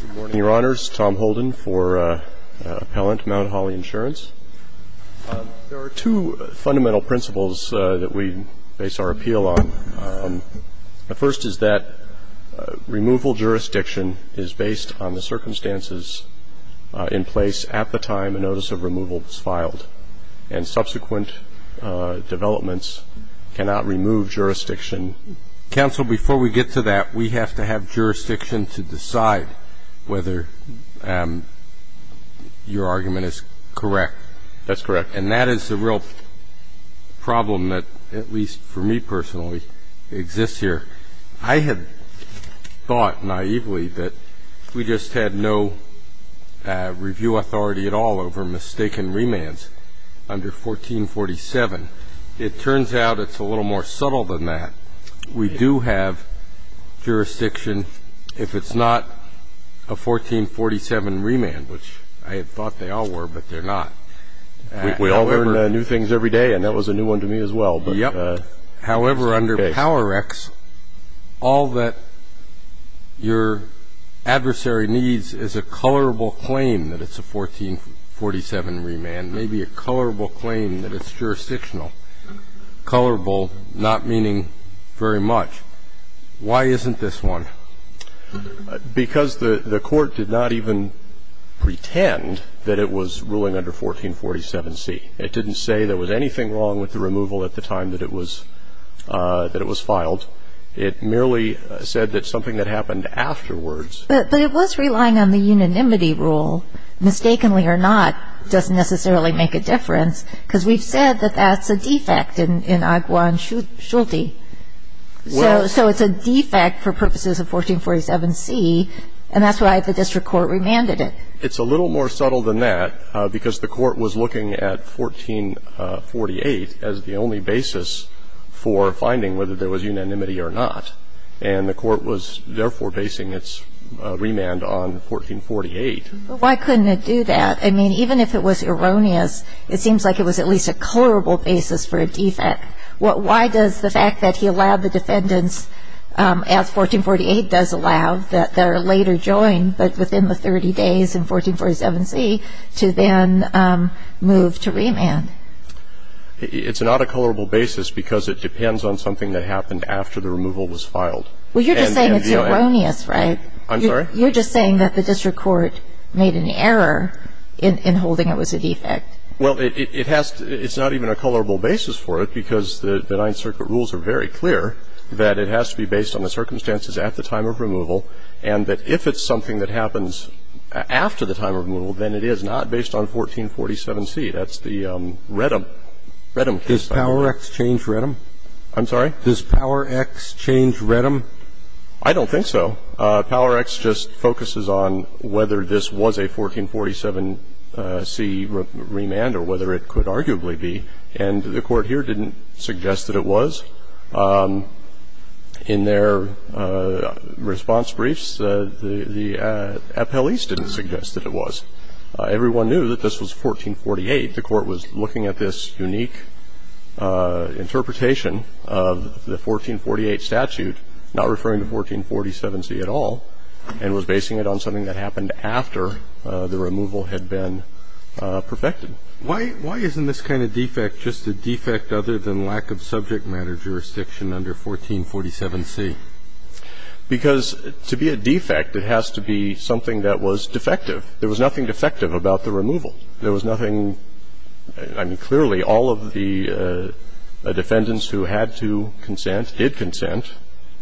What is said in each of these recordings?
Good morning, your honors. Tom Holden for appellant, Mt. Hawley Insurance. There are two fundamental principles that we base our appeal on. The first is that removal jurisdiction is based on the circumstances in place at the time a notice of removal was filed, and subsequent developments cannot remove jurisdiction. Counsel, before we get to that, we have to have jurisdiction to decide whether your argument is correct. That's correct. And that is the real problem that, at least for me personally, exists here. I had thought naively that we just had no review authority at all over mistaken remands under 1447. It turns out it's a little more subtle than that. We do have jurisdiction if it's not a 1447 remand, which I had thought they all were, but they're not. We all learn new things every day, and that was a new one to me as well. Yep. However, under PowerX, all that your adversary needs is a colorable claim that it's a 1447 remand, maybe a colorable claim that it's jurisdictional. Colorable not meaning very much. Why isn't this one? Because the Court did not even pretend that it was ruling under 1447C. It didn't say there was anything wrong with the removal at the time that it was filed. It merely said that something that happened afterwards. But it was relying on the unanimity rule, mistakenly or not, doesn't necessarily make a difference, because we've said that that's a defect in Agwa and Schulte. So it's a defect for purposes of 1447C, and that's why the district court remanded it. It's a little more subtle than that because the Court was looking at 1448 as the only basis for finding whether there was unanimity or not. And the Court was therefore basing its remand on 1448. But why couldn't it do that? I mean, even if it was erroneous, it seems like it was at least a colorable basis for a defect. Why does the fact that he allowed the defendants, as 1448 does allow, that are later joined, but within the 30 days in 1447C, to then move to remand? It's not a colorable basis because it depends on something that happened after the removal was filed. Well, you're just saying it's erroneous, right? I'm sorry? You're just saying that the district court made an error in holding it was a defect. Well, it's not even a colorable basis for it because the Ninth Circuit rules are very clear that it has to be based on the circumstances at the time of removal, and that if it's something that happens after the time of removal, then it is not based on 1447C. That's the Redham case. Does PowerX change Redham? I'm sorry? Does PowerX change Redham? I don't think so. PowerX just focuses on whether this was a 1447C remand or whether it could arguably be. And the Court here didn't suggest that it was. In their response briefs, the appellees didn't suggest that it was. Everyone knew that this was 1448. The Court was looking at this unique interpretation of the 1448 statute, not referring to 1447C at all, and was basing it on something that happened after the removal had been perfected. Why isn't this kind of defect just a defect other than lack of subject matter jurisdiction under 1447C? Because to be a defect, it has to be something that was defective. There was nothing defective about the removal. There was nothing – I mean, clearly, all of the defendants who had to consent did consent.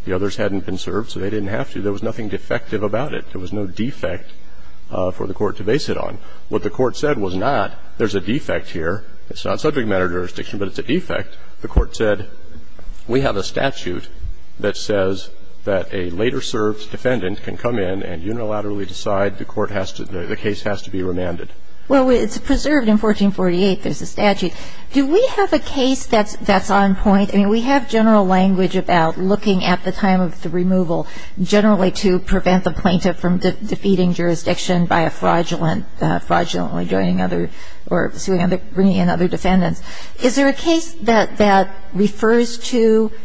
The others hadn't been served, so they didn't have to. There was nothing defective about it. There was no defect for the Court to base it on. What the Court said was not, there's a defect here. It's not subject matter jurisdiction, but it's a defect. The Court said, we have a statute that says that a later-served defendant can come in and unilaterally decide the Court has to – the case has to be remanded. Well, it's preserved in 1448. There's a statute. Do we have a case that's on point? I mean, we have general language about looking at the time of the removal, generally to prevent the plaintiff from defeating jurisdiction by a fraudulent – fraudulently joining other – or bringing in other defendants. Is there a case that refers to –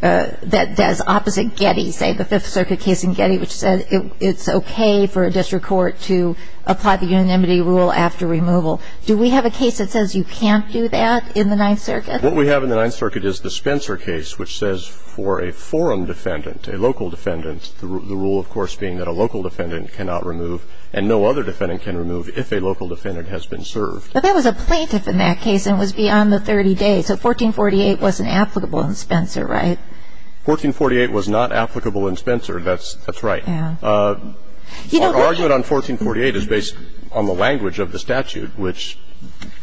that's opposite Getty, say, the Fifth Circuit case in Getty, which said it's okay for a district court to apply the unanimity rule after removal. Do we have a case that says you can't do that in the Ninth Circuit? What we have in the Ninth Circuit is the Spencer case, which says for a forum defendant, a local defendant, the rule, of course, being that a local defendant cannot remove and no other defendant can remove if a local defendant has been served. But that was a plaintiff in that case, and it was beyond the 30 days. So 1448 wasn't applicable in Spencer, right? 1448 was not applicable in Spencer. That's right. Our argument on 1448 is based on the language of the statute, which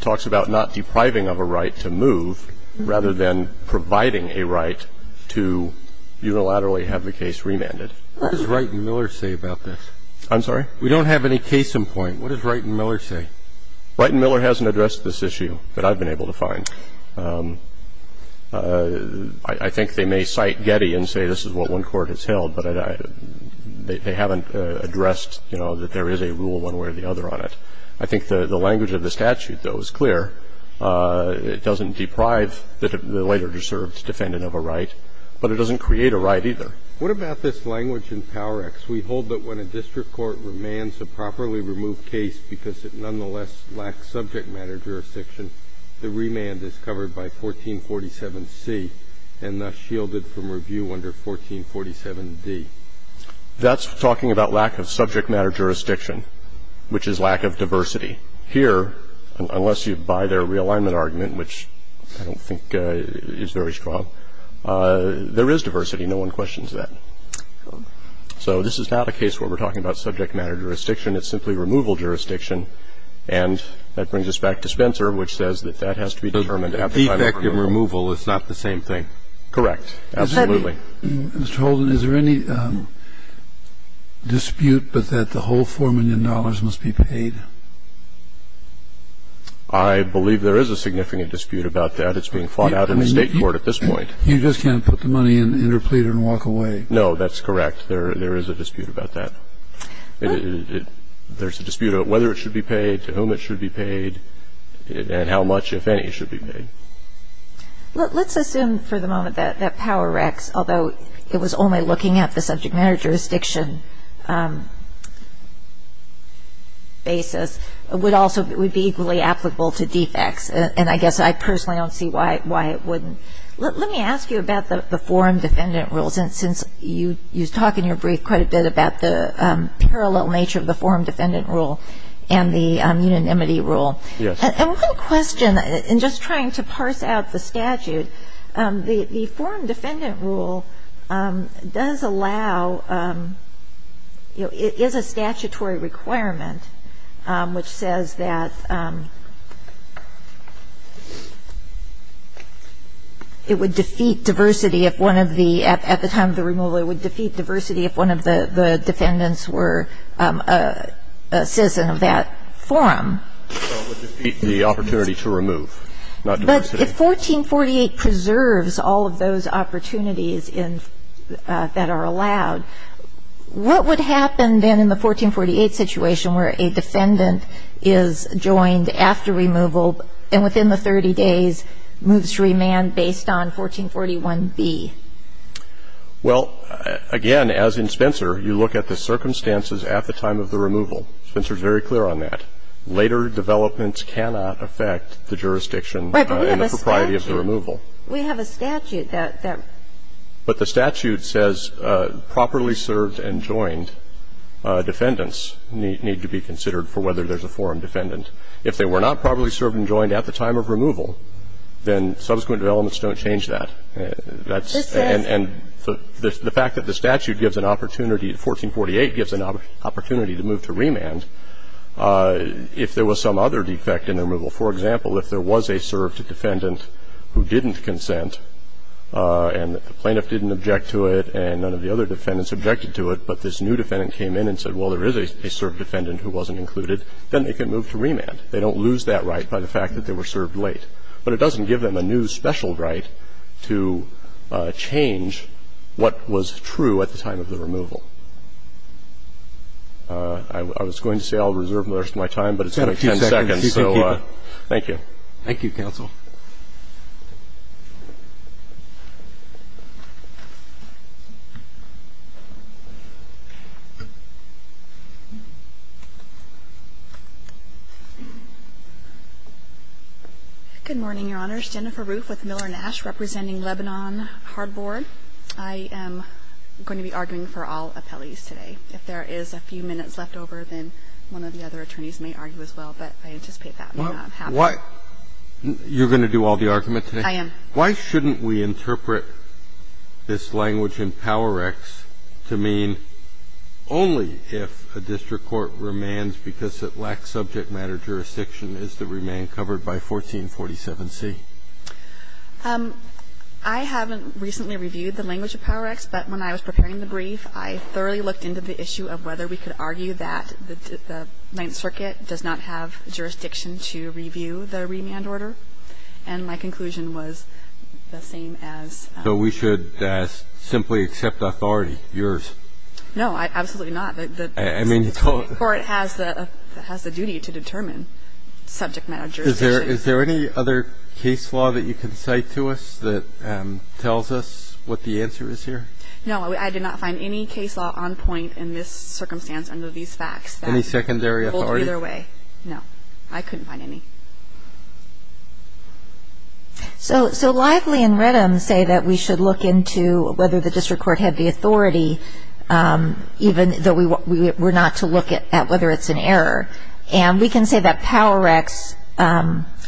talks about not depriving of a right to move rather than providing a right to unilaterally have the case remanded. What does Wright and Miller say about this? I'm sorry? We don't have any case in point. What does Wright and Miller say? Wright and Miller hasn't addressed this issue that I've been able to find. I think they may cite Getty and say this is what one court has held, but they haven't addressed, you know, that there is a rule one way or the other on it. I think the language of the statute, though, is clear. It doesn't deprive the later-served defendant of a right, but it doesn't create a right either. What about this language in PowerX? In PowerX, we hold that when a district court remands a properly removed case because it nonetheless lacks subject matter jurisdiction, the remand is covered by 1447C and thus shielded from review under 1447D. That's talking about lack of subject matter jurisdiction, which is lack of diversity. Here, unless you buy their realignment argument, which I don't think is very strong, there is diversity. No one questions that. So this is not a case where we're talking about subject matter jurisdiction. It's simply removal jurisdiction. And that brings us back to Spencer, which says that that has to be determined at the time of approval. The defect in removal is not the same thing. Correct. Absolutely. Mr. Holden, is there any dispute that the whole $4 million must be paid? I believe there is a significant dispute about that. It's being fought out in the State court at this point. You just can't put the money in, interplead, and walk away. No, that's correct. There is a dispute about that. There's a dispute about whether it should be paid, to whom it should be paid, and how much, if any, should be paid. Let's assume for the moment that Power Recs, although it was only looking at the subject matter jurisdiction basis, would also be equally applicable to defects. And I guess I personally don't see why it wouldn't. Let me ask you about the forum defendant rules. And since you talk in your brief quite a bit about the parallel nature of the forum defendant rule and the unanimity rule. Yes. And one question, in just trying to parse out the statute, the forum defendant rule does allow, is a statutory requirement, which says that it would defeat diversity if one of the, at the time of the removal, it would defeat diversity if one of the defendants were a citizen of that forum. So it would defeat the opportunity to remove, not diversity. But if 1448 preserves all of those opportunities that are allowed, what would happen then in the 1448 situation where a defendant is joined after removal and within the 30 days moves to remand based on 1441B? Well, again, as in Spencer, you look at the circumstances at the time of the removal. Spencer is very clear on that. Later developments cannot affect the jurisdiction in the propriety of the removal. Right. But we have a statute. We have a statute that. But the statute says properly served and joined defendants need to be considered for whether there's a forum defendant. If they were not properly served and joined at the time of removal, then subsequent developments don't change that. And the fact that the statute gives an opportunity, 1448 gives an opportunity to move to remand if there was some other defect in the removal. For example, if there was a served defendant who didn't consent and the plaintiff didn't object to it and none of the other defendants objected to it, but this new defendant came in and said, well, there is a served defendant who wasn't included, then they can move to remand. They don't lose that right by the fact that they were served late. But it doesn't give them a new special right to change what was true at the time of the removal. I was going to say I'll reserve most of my time, but it's only 10 seconds. Thank you. Thank you. Thank you, counsel. Good morning, Your Honors. Jennifer Roof with Miller & Ash representing Lebanon Hardboard. I am going to be arguing for all appellees today. If there is a few minutes left over, then one of the other attorneys may argue as well, but I anticipate that may not happen. You're going to do all the argument today? I am. Why shouldn't we interpret this language in PowerX to mean only if a district court remands because it lacks subject matter jurisdiction, is the remand covered by 1447C? I haven't recently reviewed the language of PowerX, but when I was preparing the brief, I thoroughly looked into the issue of whether we could argue that the Ninth Circuit does not have jurisdiction to review the remand order. And my conclusion was the same as the other. So we should simply accept authority, yours? No, absolutely not. I mean, the court has the duty to determine subject matter jurisdiction. Is there any other case law that you can cite to us that tells us what the answer is here? No, I did not find any case law on point in this circumstance under these facts. Any secondary authority? Both either way. No, I couldn't find any. So Lively and Redham say that we should look into whether the district court had the authority, even though we're not to look at whether it's an error. And we can say that PowerX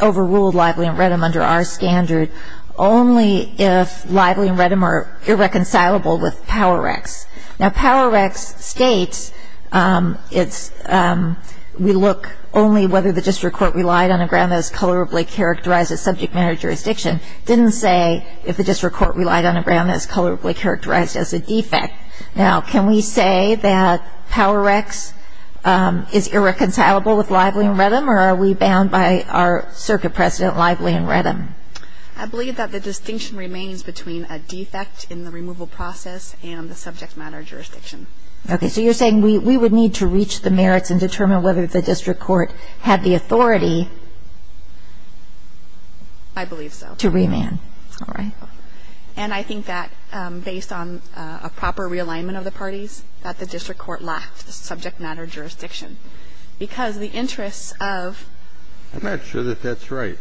overruled Lively and Redham under our standard only if Lively and Redham are irreconcilable with PowerX. Now, PowerX states we look only whether the district court relied on a ground that is colorably characterized as subject matter jurisdiction. It didn't say if the district court relied on a ground that is colorably characterized as a defect. Now, can we say that PowerX is irreconcilable with Lively and Redham, or are we bound by our circuit precedent, Lively and Redham? I believe that the distinction remains between a defect in the removal process and the subject matter jurisdiction. Okay. So you're saying we would need to reach the merits and determine whether the district court had the authority to remand. I believe so. All right. I'm not sure that that's right.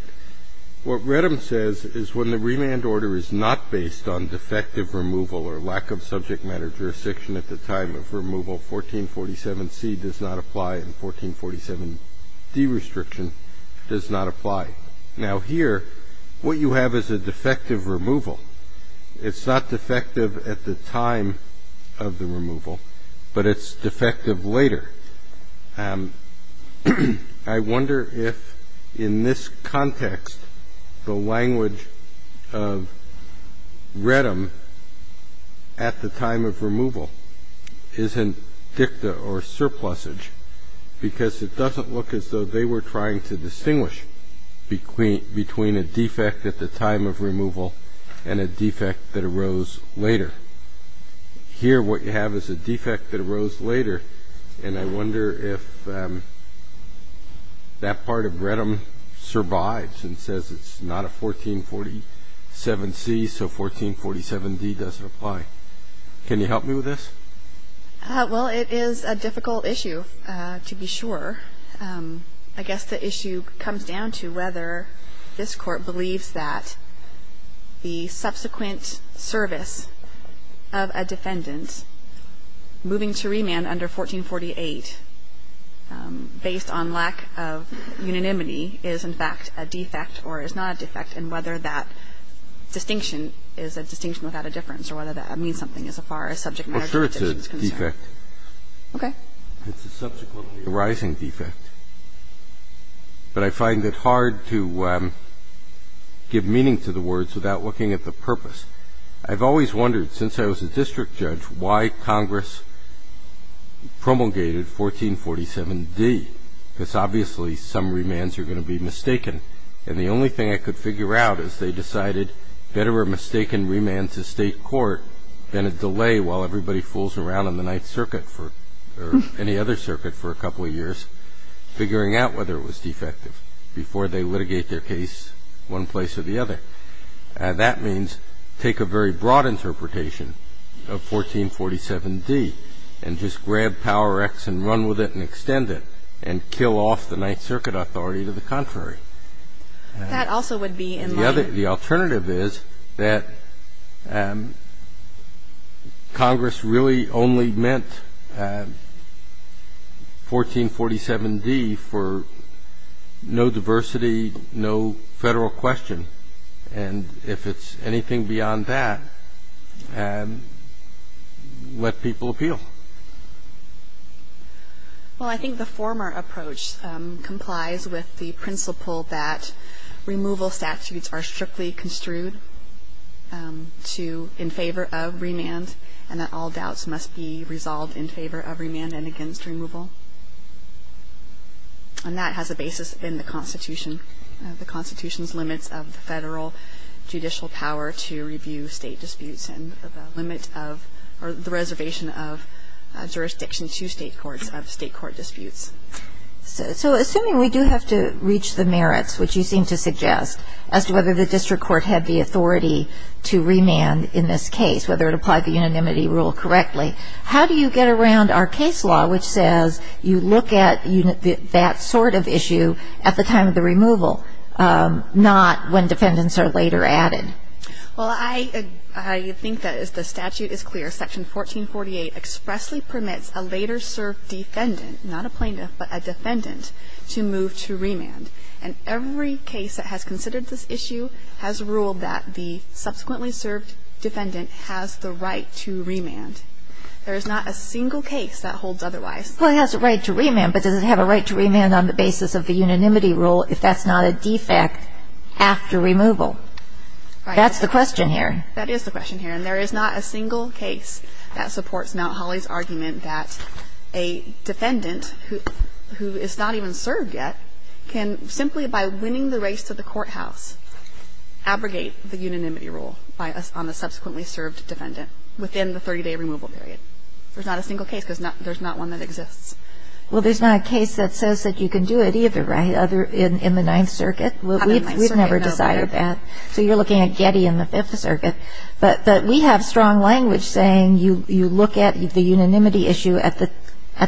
What Redham says is when the remand order is not based on defective removal or lack of subject matter jurisdiction at the time of removal, 1447C does not apply and 1447D restriction does not apply. Now, here, what you have is a defective removal order. You have a defective removal order. It's not defective at the time of the removal, but it's defective later. I wonder if in this context the language of Redham at the time of removal isn't dicta or surplusage, because it doesn't look as though they were trying to distinguish between a defect at the time of removal and a defect that arose later. Here, what you have is a defect that arose later, and I wonder if that part of Redham survives and says it's not a 1447C, so 1447D doesn't apply. Can you help me with this? Well, it is a difficult issue, to be sure. I guess the issue comes down to whether this Court believes that the subsequent service of a defendant moving to remand under 1448 based on lack of unanimity is, in fact, a defect or is not a defect, and whether that distinction is a distinction without a difference or whether that means something as far as subject matter jurisdiction is concerned. Okay. It's a subsequently arising defect. But I find it hard to give meaning to the words without looking at the purpose. I've always wondered, since I was a district judge, why Congress promulgated 1447D, because obviously some remands are going to be mistaken. And the only thing I could figure out is they decided better a mistaken remand to state court than a delay while everybody fools around in the Ninth Circuit or any other circuit for a couple of years, figuring out whether it was defective before they litigate their case one place or the other. That means take a very broad interpretation of 1447D and just grab Power X and run with it and extend it and kill off the Ninth Circuit authority to the contrary. That also would be in line. The alternative is that Congress really only meant 1447D for no diversity, no Federal question. And if it's anything beyond that, let people appeal. Well, I think the former approach complies with the principle that removal statutes are strictly construed to in favor of remand and that all doubts must be resolved in favor of remand and against removal. And that has a basis in the Constitution. The Constitution's limits of the Federal judicial power to review state disputes and the limit of or the reservation of jurisdiction to state courts of state court disputes. So assuming we do have to reach the merits, which you seem to suggest, as to whether the district court had the authority to remand in this case, whether it applied the unanimity rule correctly, how do you get around our case law which says you look at that sort of issue at the time of the removal, not when defendants are later added? Well, I think that the statute is clear. Section 1448 expressly permits a later served defendant, not a plaintiff, but a defendant, to move to remand. And every case that has considered this issue has ruled that the subsequently served defendant has the right to remand. There is not a single case that holds otherwise. Well, it has a right to remand, but does it have a right to remand on the basis of the unanimity rule if that's not a defect after removal? That's the question here. That is the question here. And there is not a single case that supports Mount Holly's argument that a defendant who is not even served yet can, simply by winning the race to the courthouse, abrogate the unanimity rule on the subsequently served defendant within the 30-day removal period. There's not a single case because there's not one that exists. Well, there's not a case that says that you can do it either, right, in the Ninth Circuit? Not in the Ninth Circuit, no. We've never decided that. So you're looking at Getty in the Fifth Circuit. But we have strong language saying you look at the unanimity issue at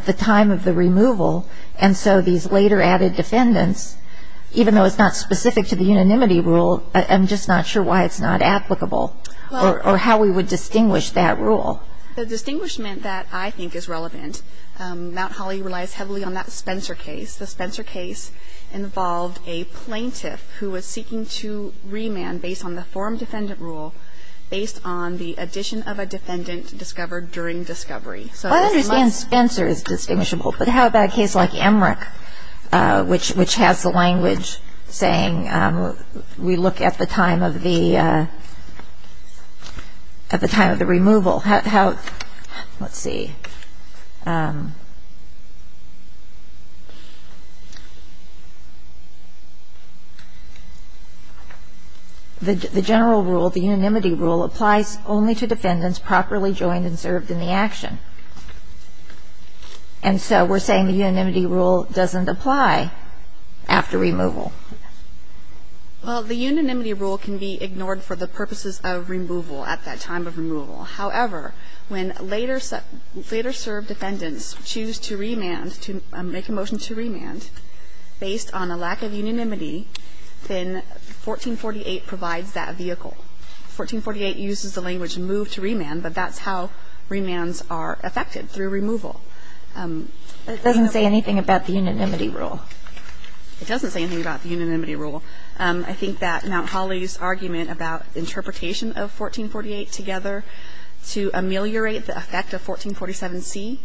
the time of the removal, and so these later added defendants, even though it's not specific to the unanimity rule, I'm just not sure why it's not applicable or how we would distinguish that rule. The distinguishment that I think is relevant, Mount Holly relies heavily on that Spencer case. The Spencer case involved a plaintiff who was seeking to remand based on the form defendant rule, based on the addition of a defendant discovered during discovery. So this must be the case. Well, I understand Spencer is distinguishable, but how about a case like Emmerich, which has the language saying we look at the time of the removal? Let's see. The general rule, the unanimity rule, applies only to defendants properly joined and served in the action. And so we're saying the unanimity rule doesn't apply after removal. Well, the unanimity rule can be ignored for the purposes of removal, at that time of removal. However, when later served defendants choose to remand, to make a motion to remand based on a lack of unanimity, then 1448 provides that vehicle. 1448 uses the language move to remand, but that's how remands are affected, through removal. But it doesn't say anything about the unanimity rule. It doesn't say anything about the unanimity rule. I think that Mount Holly's argument about interpretation of 1448 together to ameliorate the effect of 1447C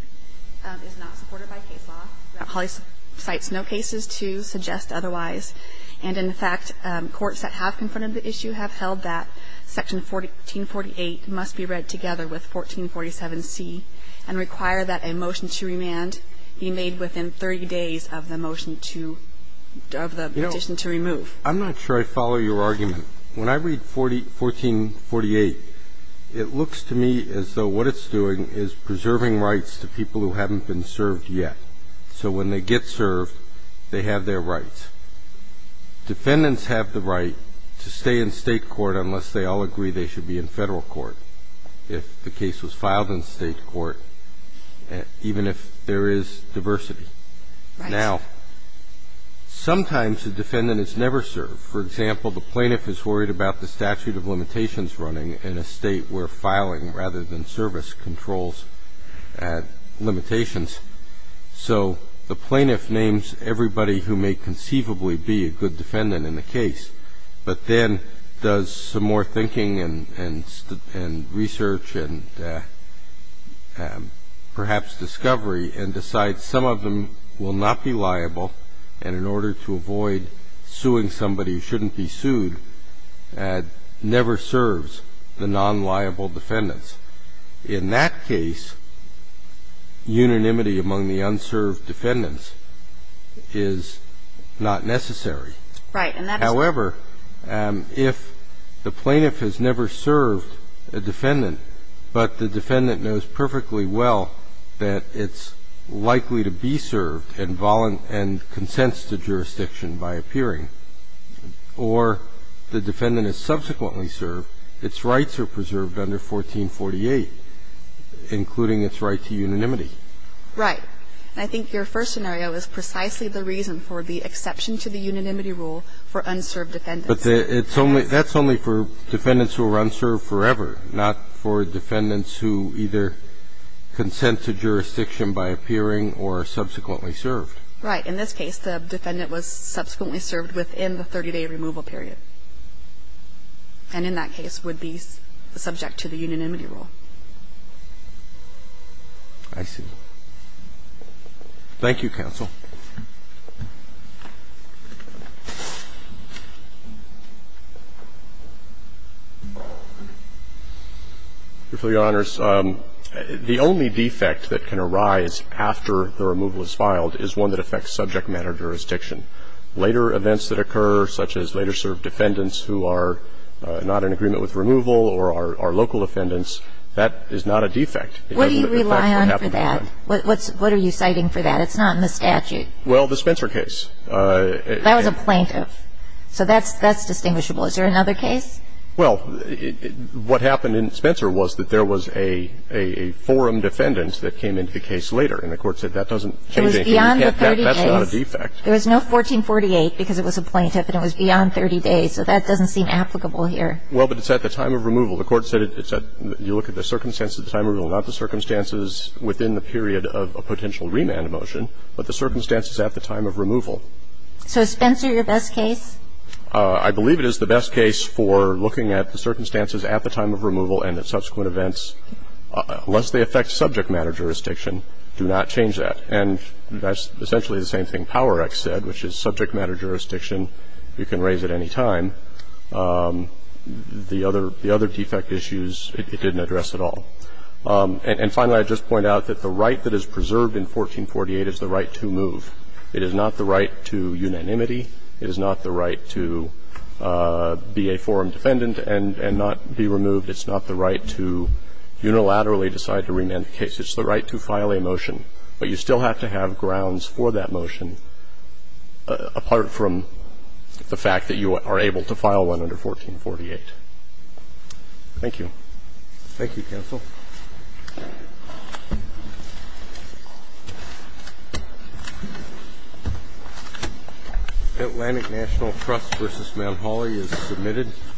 is not supported by case law. Mount Holly cites no cases to suggest otherwise. And, in fact, courts that have confronted the issue have held that Section 1448 must be read together with 1447C and require that a motion to remand be made within 30 days of the motion to remove. I'm not sure I follow your argument. When I read 1448, it looks to me as though what it's doing is preserving rights to people who haven't been served yet. So when they get served, they have their rights. Defendants have the right to stay in State court unless they all agree they should be in Federal court, if the case was filed in State court, even if there is diversity. Right. Now, sometimes a defendant is never served. For example, the plaintiff is worried about the statute of limitations running in a State where filing rather than service controls limitations. So the plaintiff names everybody who may conceivably be a good defendant in the case, but then does some more thinking and research and perhaps discovery and decides that some of them will not be liable and in order to avoid suing somebody who shouldn't be sued, never serves the non-liable defendants. In that case, unanimity among the unserved defendants is not necessary. Right. However, if the plaintiff has never served a defendant, but the defendant knows perfectly well that it's likely to be served and consents to jurisdiction by appearing, or the defendant is subsequently served, its rights are preserved under 1448, including its right to unanimity. Right. I think your first scenario is precisely the reason for the exception to the unanimity rule for unserved defendants. But that's only for defendants who are unserved forever, not for defendants who either consent to jurisdiction by appearing or are subsequently served. Right. In this case, the defendant was subsequently served within the 30-day removal period, and in that case would be subject to the unanimity rule. I see. Thank you, counsel. Your Honor, the only defect that can arise after the removal is filed is one that affects subject matter jurisdiction. Later events that occur, such as later served defendants who are not in agreement with removal or are local defendants, that is not a defect. What do you rely on for that? What are you citing for that? It's not in the statute. Well, the Spencer case. That was a plaintiff. So that's distinguishable. Is there another case? Well, what happened in Spencer was that there was a forum defendant that came into the case later, and the Court said that doesn't change anything. It was beyond the 30 days. That's not a defect. There was no 1448 because it was a plaintiff, and it was beyond 30 days. So that doesn't seem applicable here. Well, but it's at the time of removal. The Court said it's at the time of removal, not the circumstances within the period of a potential remand motion. But the circumstances at the time of removal. So is Spencer your best case? I believe it is the best case for looking at the circumstances at the time of removal and the subsequent events. Unless they affect subject matter jurisdiction, do not change that. And that's essentially the same thing Power Act said, which is subject matter jurisdiction, you can raise at any time. The other defect issues, it didn't address at all. And finally, I would just point out that the right that is preserved in 1448 is the right to move. It is not the right to unanimity. It is not the right to be a forum defendant and not be removed. It's not the right to unilaterally decide to remand the case. It's the right to file a motion. But you still have to have grounds for that motion, apart from the fact that you are able to file one under 1448. Thank you. Thank you, Counsel. Atlantic National Trust v. Mount Holly is submitted.